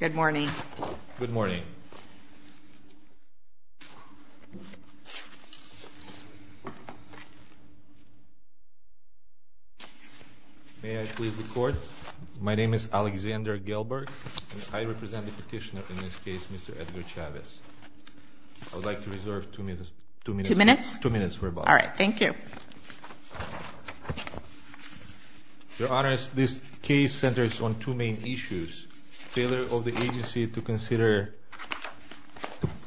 Good morning. Good morning. May I please record? My name is Alexander Gelberg. I represent the petitioner in this case, Mr. Edgar Chavez. I would like to reserve two minutes. Two minutes? Two minutes for about. Alright, thank you. Your Honors, this case centers on two main issues. Failure of the agency to consider,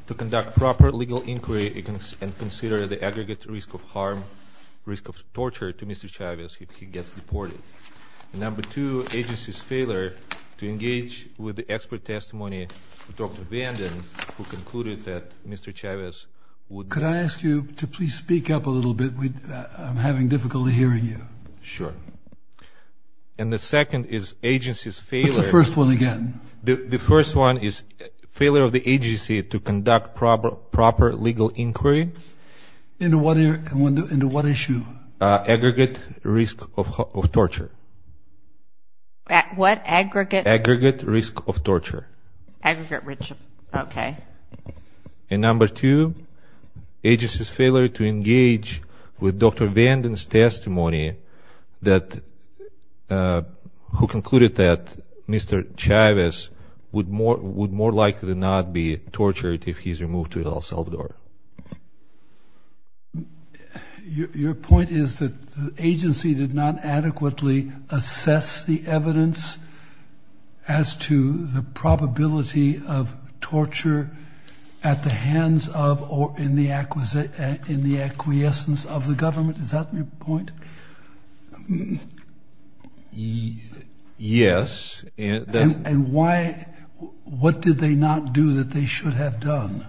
to conduct proper legal inquiry and consider the aggregate risk of harm, risk of torture to Mr. Chavez if he gets deported. Number two, agency's failure to engage with the expert testimony of Dr. Vanden, who concluded that Mr. Chavez would- I would like you to please speak up a little bit. I'm having difficulty hearing you. Sure. And the second is agency's failure- What's the first one again? The first one is failure of the agency to conduct proper legal inquiry. Into what issue? Aggregate risk of torture. What? Aggregate? Aggregate risk of torture. Aggregate risk, okay. And number two, agency's failure to engage with Dr. Vanden's testimony that- who concluded that Mr. Chavez would more likely than not be tortured if he's removed to El Salvador. Your point is that the agency did not adequately assess the evidence as to the probability of torture at the hands of or in the acquiescence of the government. Is that your point? Yes. And why- what did they not do that they should have done?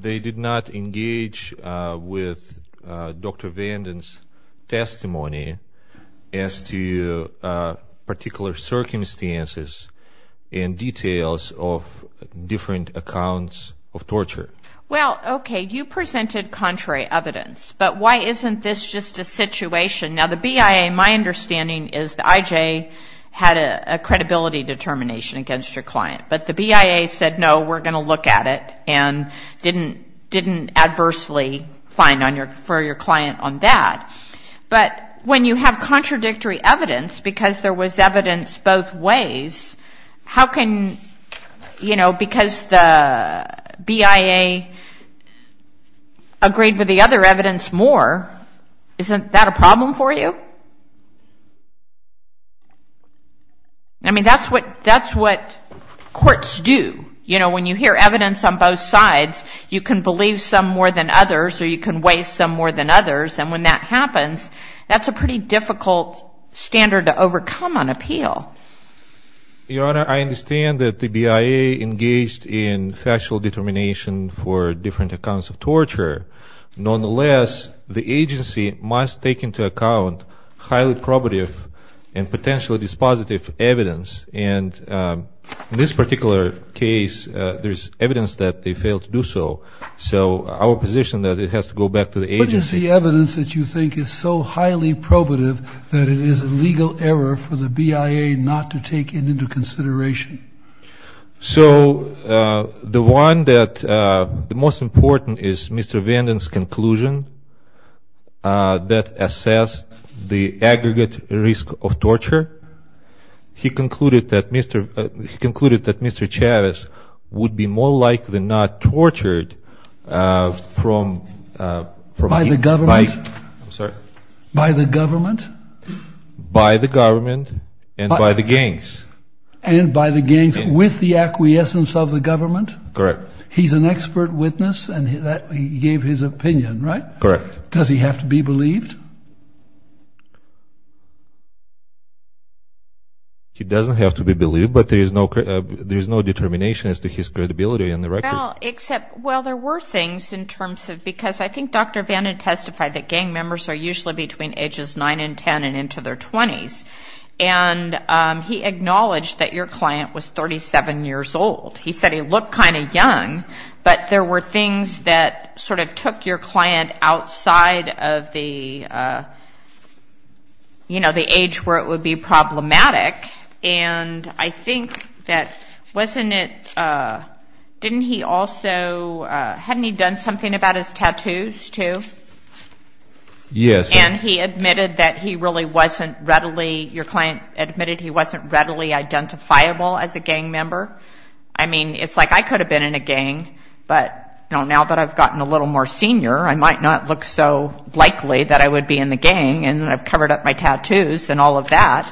They did not engage with Dr. Vanden's testimony as to particular circumstances and details of different accounts of torture. Well, okay, you presented contrary evidence, but why isn't this just a situation- now the BIA, my understanding is the IJ had a credibility determination against your client, but the BIA said, no, we're going to look at it and didn't adversely find for your client on that. But when you have contradictory evidence, because there was evidence both ways, how can- you know, because the BIA agreed with the other evidence more, isn't that a problem for you? I mean, that's what courts do. You know, when you hear evidence on both sides, you can believe some more than others or you can weigh some more than others, and when that happens, that's a pretty difficult standard to overcome on appeal. Your Honor, I understand that the BIA engaged in factual determination for different accounts of torture. Nonetheless, the agency must take into account highly probative and potentially dispositive evidence, and in this particular case, there's evidence that they failed to do so. So our position is that it has to go back to the agency. What is the evidence that you think is so highly probative that it is a legal error for the BIA not to take it into consideration? So the one that- the most important is Mr. Vanden's conclusion that assessed the aggregate risk of torture. He concluded that Mr. Chavez would be more likely not tortured from- By the government? By the government and by the gangs. And by the gangs, with the acquiescence of the government? Correct. He's an expert witness, and that gave his opinion, right? Correct. Does he have to be believed? He doesn't have to be believed, but there is no determination as to his credibility in the record. Well, except- well, there were things in terms of- because I think Dr. Vanden testified that gang members are usually between ages 9 and 10 and into their 20s, and he acknowledged that your client was 37 years old. He said he looked kind of young, but there were things that sort of took your client outside of the, you know, the age where it would be problematic, and I think that wasn't it- didn't he also- hadn't he done something about his tattoos, too? Yes. And he admitted that he really wasn't readily- your client admitted he wasn't readily identifiable as a gang member? I mean, it's like I could have been in a gang, but now that I've gotten a little more senior, I might not look so likely that I would be in the gang, and I've covered up my tattoos and all of that.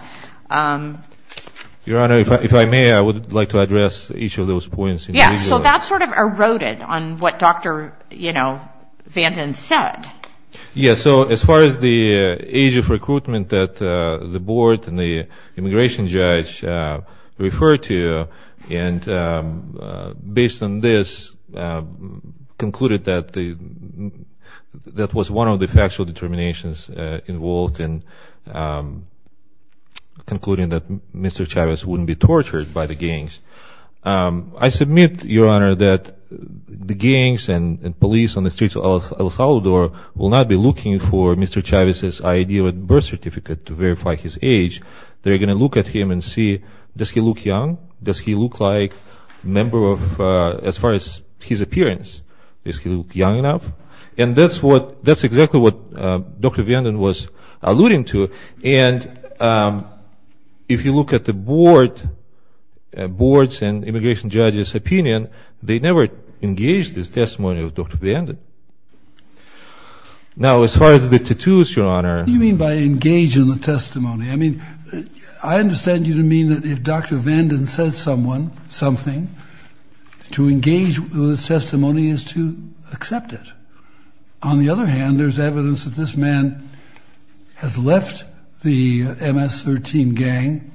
Your Honor, if I may, I would like to address each of those points individually. So that sort of eroded on what Dr., you know, Vanden said. Yes, so as far as the age of recruitment that the board and the immigration judge referred to, and based on this, concluded that the- that was one of the factual determinations involved in concluding that Mr. Chavez wouldn't be tortured by the gangs. I submit, Your Honor, that the gangs and police on the streets of El Salvador will not be looking for Mr. Chavez's ID or birth certificate to verify his age. They're going to look at him and see, does he look young? Does he look like a member of- as far as his appearance, does he look young enough? And that's what- that's exactly what Dr. Vanden was alluding to, and if you look at the board, board's and immigration judge's opinion, they never engaged this testimony of Dr. Vanden. Now, as far as the tattoos, Your Honor- What do you mean by engage in the testimony? I mean, I understand you to mean that if Dr. Vanden says someone, something, to engage with the testimony is to accept it. On the other hand, there's evidence that this man has left the MS-13 gang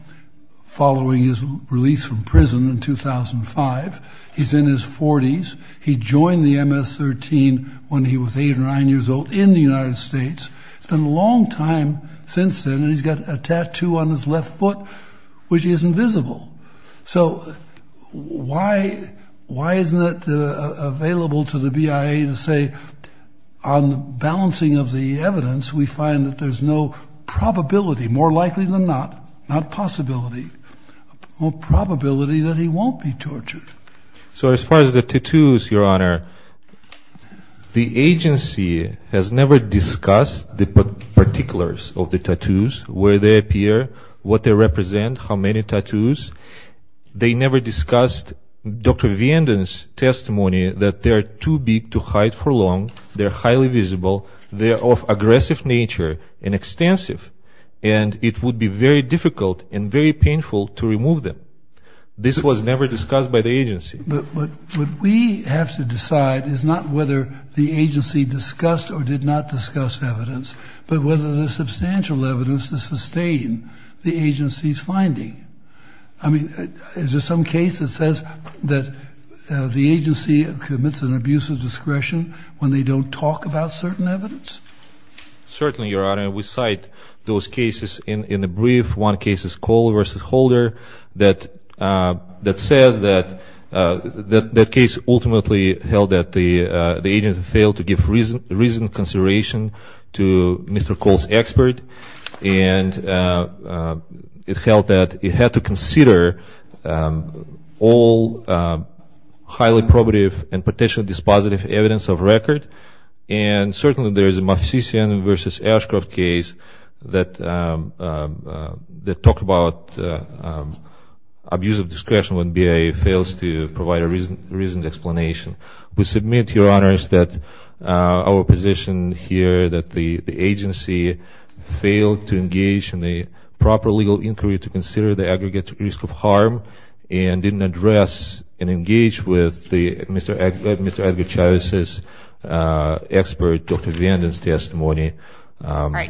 following his death. He was released from prison in 2005. He's in his 40s. He joined the MS-13 when he was 8 or 9 years old in the United States. It's been a long time since then, and he's got a tattoo on his left foot, which is invisible. So, why- why isn't it available to the BIA to say, on the balancing of the evidence, we find that there's no probability, more likely than not, not possibility, a possibility that this man has left the MS-13 gang? Well, probability that he won't be tortured. But- but what we have to decide is not whether the agency discussed or did not discuss evidence, but whether there's substantial evidence to sustain the agency's finding. I mean, is there some case that says that the agency commits an abuse of discretion when they don't talk about certain evidence? Certainly, Your Honor, we cite those cases in- in the brief. One case is Cole v. Holder that- that says that- that- that case ultimately held that the- the agency failed to give reason- reasoned consideration to Mr. Cole's expert, and it held that it had to consider all highly probative and potentially dispositive evidence of record. And, certainly, there is a Moffitt v. Ashcroft case that- that talked about abuse of discretion when BIA fails to provide a reason- reasoned explanation. We submit, Your Honors, that our position here that the- the agency failed to engage in a proper legal inquiry to consider the aggregate risk of harm and didn't address and engage with the- Mr.- Mr. Edgar Chavez's- Mr. Cole's expert. Dr. Vanden's testimony. Your Honor,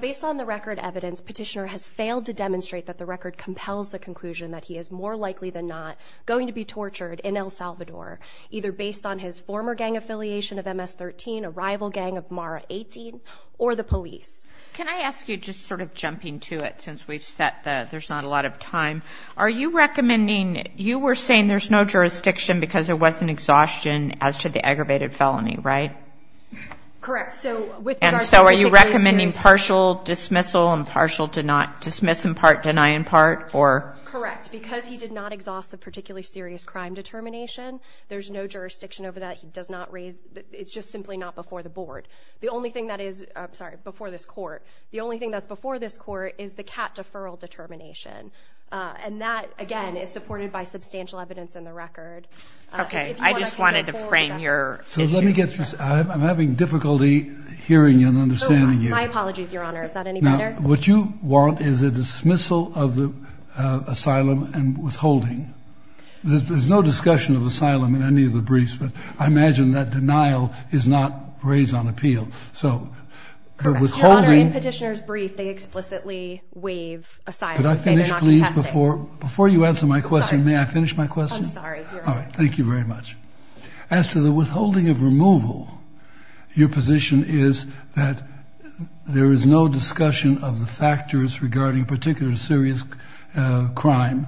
based on the record evidence, Petitioner has failed to demonstrate that the record compels the conclusion that he is more likely than not going to be tortured in El Salvador, either based on his former gang affiliation of MS-13, a rival gang of MARA-18, or the police. Can I ask you, just sort of jumping to it, since we've set the- there's not a lot of time, are you recommending- you were saying there's no jurisdiction because there wasn't exhaustion as to the aggravated felony, right? Correct. So, with regard to- And so, are you recommending partial dismissal and partial- dismiss in part, deny in part, or? Correct. Because he did not exhaust the particularly serious crime determination, there's no jurisdiction over that. He does not raise- it's just simply not before the board. The only thing that is- I'm sorry, before this Court- the only thing that's before this Court is the cat deferral determination. And that, again, is supported by substantial evidence in the record. Okay. I just wanted to frame your issue. So, let me get- I'm having difficulty hearing and understanding you. My apologies, Your Honor. Is that any better? Now, what you want is a dismissal of the asylum and withholding. There's no discussion of asylum in any of the briefs, but I imagine that denial is not raised on appeal. So, the withholding- Your Honor, in Petitioner's brief, they explicitly waive asylum. Could I finish, please, before- Before you answer my question, may I finish my question? I'm sorry, Your Honor. All right. Thank you very much. As to the withholding of removal, your position is that there is no discussion of the factors regarding a particular serious crime,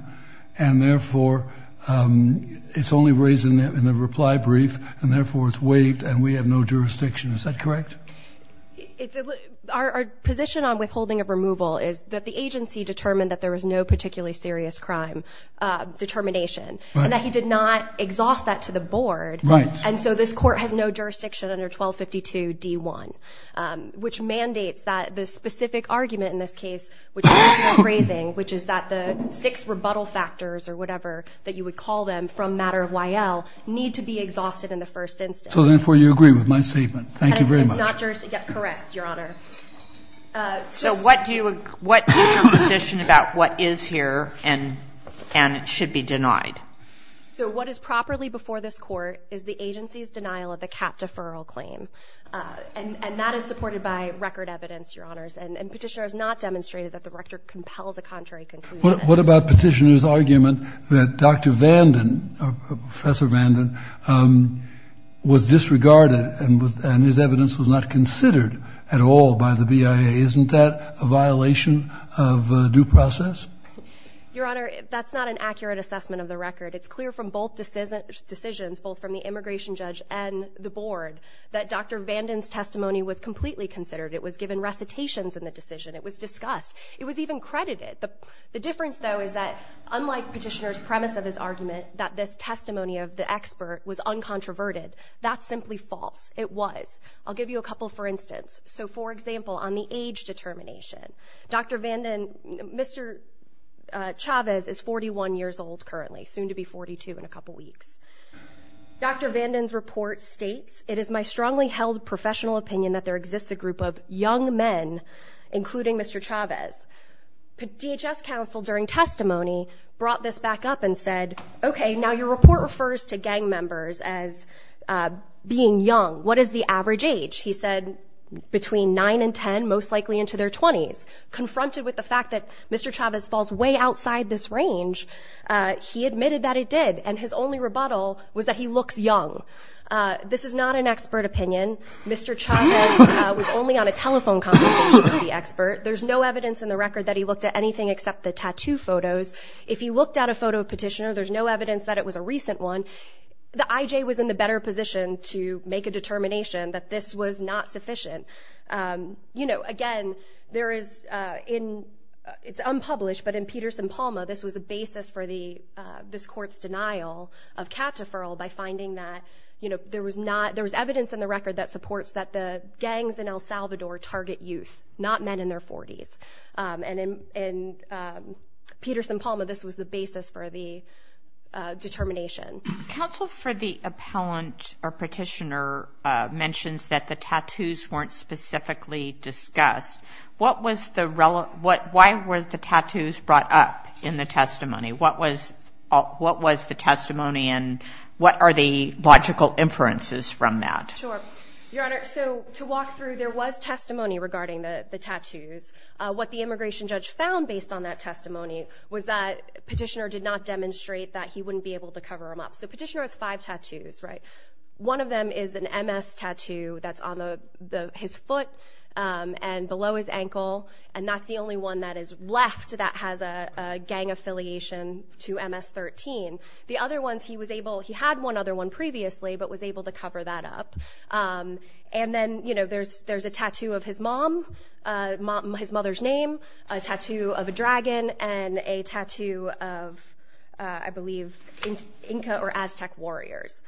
and, therefore, it's only raised in the reply brief, and, therefore, it's waived, and we have no jurisdiction. Is that correct? It's- Our position on withholding of removal is that the agency determined that there was no particularly serious crime determination. Right. And that he did not exhaust that to the board. Right. And so this Court has no jurisdiction under 1252d1, which mandates that the specific argument in this case, which is not phrasing, which is that the six rebuttal factors or whatever that you would call them from matter of Y.L. need to be exhausted in the first instance. So, therefore, you agree with my statement. Thank you very much. Not jurisdiction. Correct, Your Honor. So what is your position about what is here and should be denied? So what is properly before this Court is the agency's denial of the cap deferral claim, and that is supported by record evidence, Your Honors. And Petitioner has not demonstrated that the record compels a contrary conclusion. What about Petitioner's argument that Dr. Vanden, Professor Vanden, was disregarded and his evidence was not considered at all by the BIA? Isn't that a violation of due process? Your Honor, that's not an accurate assessment of the record. It's clear from both decisions, both from the immigration judge and the board, that Dr. Vanden's testimony was completely considered. It was given recitations in the decision. It was discussed. It was even credited. The difference, though, is that unlike Petitioner's premise of his argument that this testimony of the expert was uncontroverted, that's simply false. It was. I'll give you a couple for instance. So, for example, on the age determination, Dr. Vanden, Mr. Chavez is 41 years old currently, soon to be 42 in a couple weeks. Dr. Vanden's report states, it is my strongly held professional opinion that there exists a group of young men, including Mr. Chavez. DHS counsel during testimony brought this back up and said, okay, now your report refers to gang members as being young. What is the average age? He said between 9 and 10, most likely into their 20s. Confronted with the fact that Mr. Chavez falls way outside this range, he admitted that it did. And his only rebuttal was that he looks young. This is not an expert opinion. Mr. Chavez was only on a telephone conversation with the expert. There's no evidence in the record that he looked at anything except the tattoo photos. If he looked at a photo of Petitioner, there's no evidence that it was a recent one. The IJ was in the better position to make a determination that this was not sufficient. Again, it's unpublished, but in Peterson-Palma, this was a basis for this court's denial of cat deferral by finding that there was evidence in the record that supports that the gangs in El Salvador target youth, not men in their 40s. In Peterson-Palma, this was the basis for the determination. Counsel for the appellant or Petitioner mentions that the tattoos weren't specifically discussed. What was the tattoos brought up in the testimony? What was the testimony and what are the logical inferences from that? To walk through, there was testimony regarding the tattoos. What the immigration judge found based on that testimony was that Petitioner did not demonstrate that he wouldn't be able to cover them up. Petitioner has five tattoos. One of them is an MS tattoo that's on his foot and below his ankle. That's the only one that is left that has a gang affiliation to MS-13. He had one other one previously, but was able to cover that up. There's a tattoo of his mom, his mother's name, a tattoo of a dragon, and a tattoo of Inca or Aztec warriors.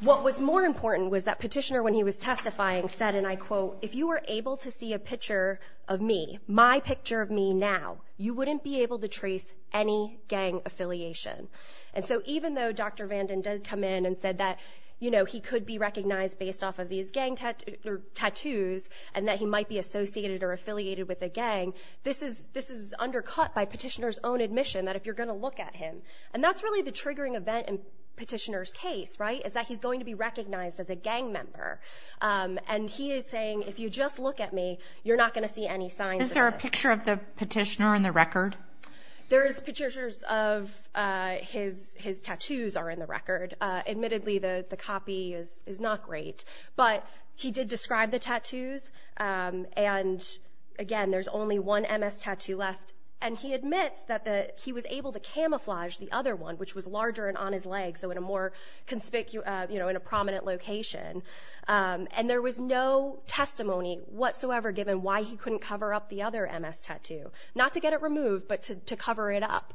What was more important was that Petitioner, when he was testifying, said, and I quote, if you were able to see a picture of me, my picture of me now, you wouldn't be able to trace any gang affiliation. Even though Dr. Vanden did come in and said that he could be recognized based off of these gang tattoos and that he might be associated or affiliated with a gang, this is undercut by Petitioner's own admission that if you're going to look at him. That's really the triggering event in Petitioner's case. He's going to be recognized as a gang member. He is saying, if you just look at me, you're not going to see any signs of it. Is there a picture of the Petitioner in the record? There's pictures of his tattoos are in the record. Admittedly, the copy is not great, but he did describe the tattoos. Again, there's only one MS tattoo left. He admits that he was able to camouflage the other one, which was larger and on his leg, so in a more way than why he couldn't cover up the other MS tattoo. Not to get it removed, but to cover it up.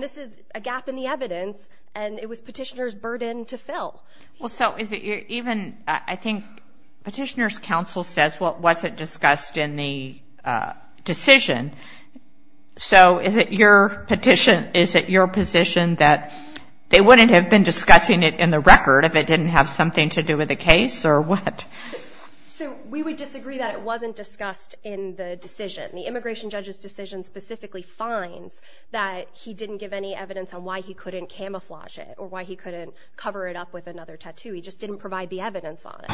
This is a gap in the evidence, and it was Petitioner's burden to fill. I think Petitioner's counsel says what wasn't discussed in the decision. Is it your position that they wouldn't have been discussing it in the record if it didn't have something to do with the case, or what? We would disagree that it wasn't discussed in the decision. The immigration judge's decision specifically finds that he didn't give any evidence on why he couldn't camouflage it, or why he couldn't cover it up with another tattoo. He just didn't provide the evidence on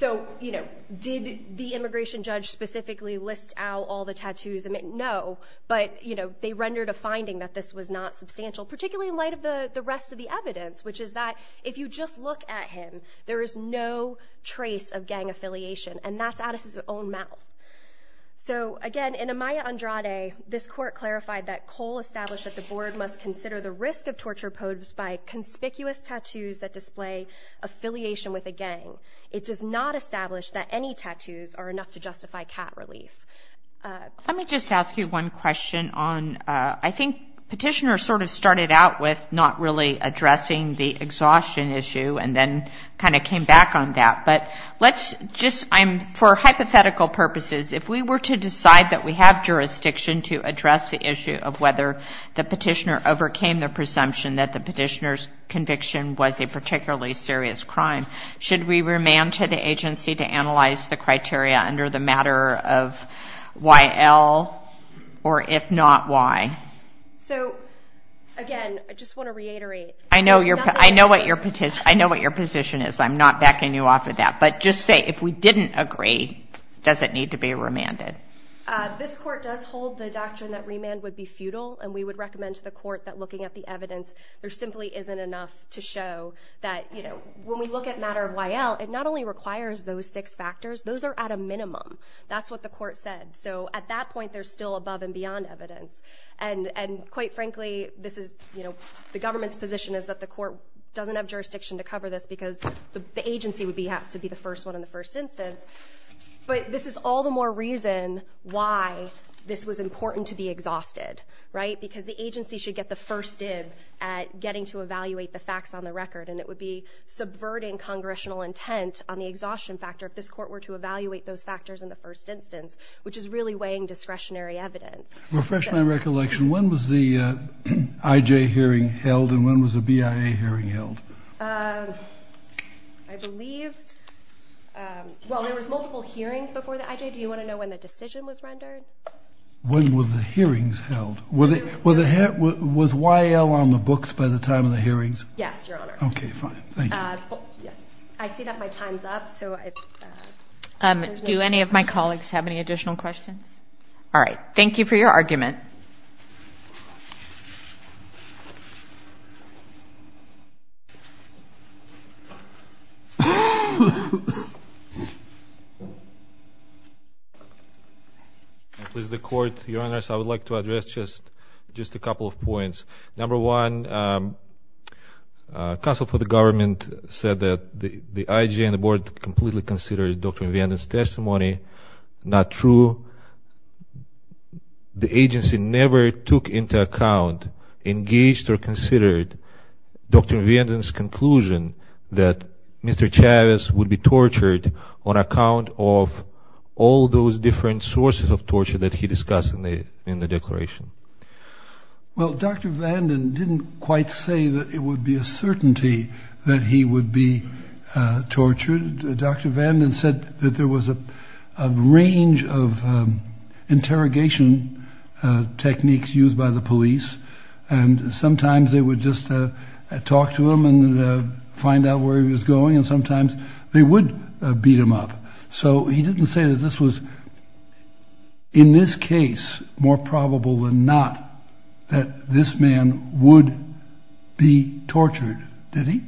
it. Did the immigration judge specifically list out all the tattoos? No. But they rendered a finding that this was not substantial, particularly in light of the rest of the evidence, which is that if you just look at him, there is no trace of gang affiliation, and that's out of his own mouth. Again, in Amaya Andrade, this court clarified that Cole established that the board must consider the risk of torture posed by conspicuous tattoos that display affiliation with a gang. It does not establish that any tattoos are enough to justify cat relief. Let me just ask you one question. I think petitioners sort of started out with not really addressing the exhaustion issue, and then kind of came back on that. For hypothetical purposes, if we were to decide that we have jurisdiction to address the issue of whether the petitioner overcame the presumption that the petitioner's agency to analyze the criteria under the matter of YL, or if not, why? So, again, I just want to reiterate... I know what your position is. I'm not backing you off of that. But just say, if we didn't agree, does it need to be remanded? This court does hold the doctrine that remand would be futile, and we would recommend to the court that looking at the evidence, there simply isn't enough to show that... When we look at matter of YL, it not only requires those six factors, those are at a minimum. That's what the court said. At that point, there's still above and beyond evidence. And quite frankly, the government's position is that the court doesn't have jurisdiction to cover this, because the agency would have to be the first one in the first instance. But this is all the more reason why this was important to be exhausted, right? Because the agency should get the first dib at getting to evaluate the facts on the record, and it would be subverting Congressional intent on the exhaustion factor if this court were to evaluate those factors in the first instance, which is really weighing discretionary evidence. Refresh my recollection. When was the IJ hearing held, and when was the BIA hearing held? I believe... Well, there was multiple hearings before the IJ. Do you want to know when the decision was rendered? When were the hearings held? Was YL on the books by the time of the hearings? Yes, Your Honor. Okay, fine. Thank you. I see that my time's up. Do any of my colleagues have any additional questions? All right. Thank you for your argument. Please, the Court. Your Honors, I would like to address just a couple of points. Number one, counsel for the government said that the IJ and the Board completely considered Dr. Vanden's testimony not true. The agency never took into account, engaged, or considered Dr. Vanden's conclusion that Mr. Chavez would be tortured on account of all those different sources of torture that he discussed in the declaration. Well, Dr. Vanden didn't quite say that it would be a certainty that he would be tortured. Dr. Vanden said that there was a range of interrogation techniques used by the police, and sometimes they would just talk to him and find out where he was going, and sometimes they would beat him up. So he didn't say that this was, in this case, more probable than not that this man would be tortured, did he?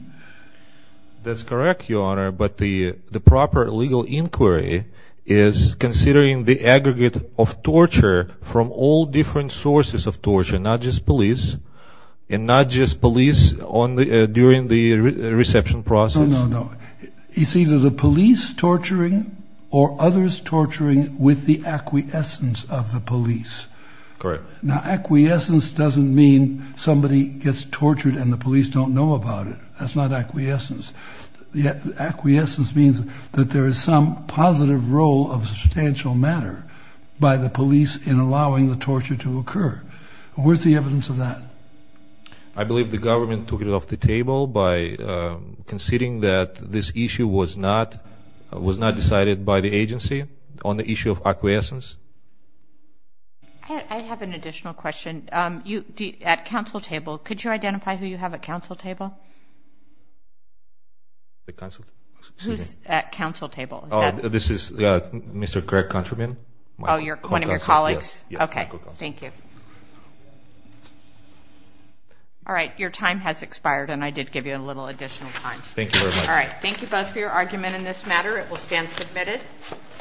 That's correct, Your Honor, but the proper legal inquiry is considering the aggregate of torture from all different sources of torture, not just police, and not just police during the reception process. No, no, no. It's either the police torturing or others torturing with the acquiescence of the police. Correct. Now, acquiescence doesn't mean somebody gets tortured and the police don't know about it. That's not acquiescence. Acquiescence means that there is some positive role of substantial matter by the police in allowing the torture to occur. Where's the evidence of that? I believe the government took it off the table by considering that this issue was not decided by the agency on the issue of acquiescence. I have an additional question. At council table, could you identify who you have at council table? Who's at council table? This is Mr. Greg Countryman. One of your colleagues? Yes. Okay. Thank you. All right. Your time has expired, and I did give you a little additional time. Thank you very much. Thank you both for your argument in this matter. It will stand submitted.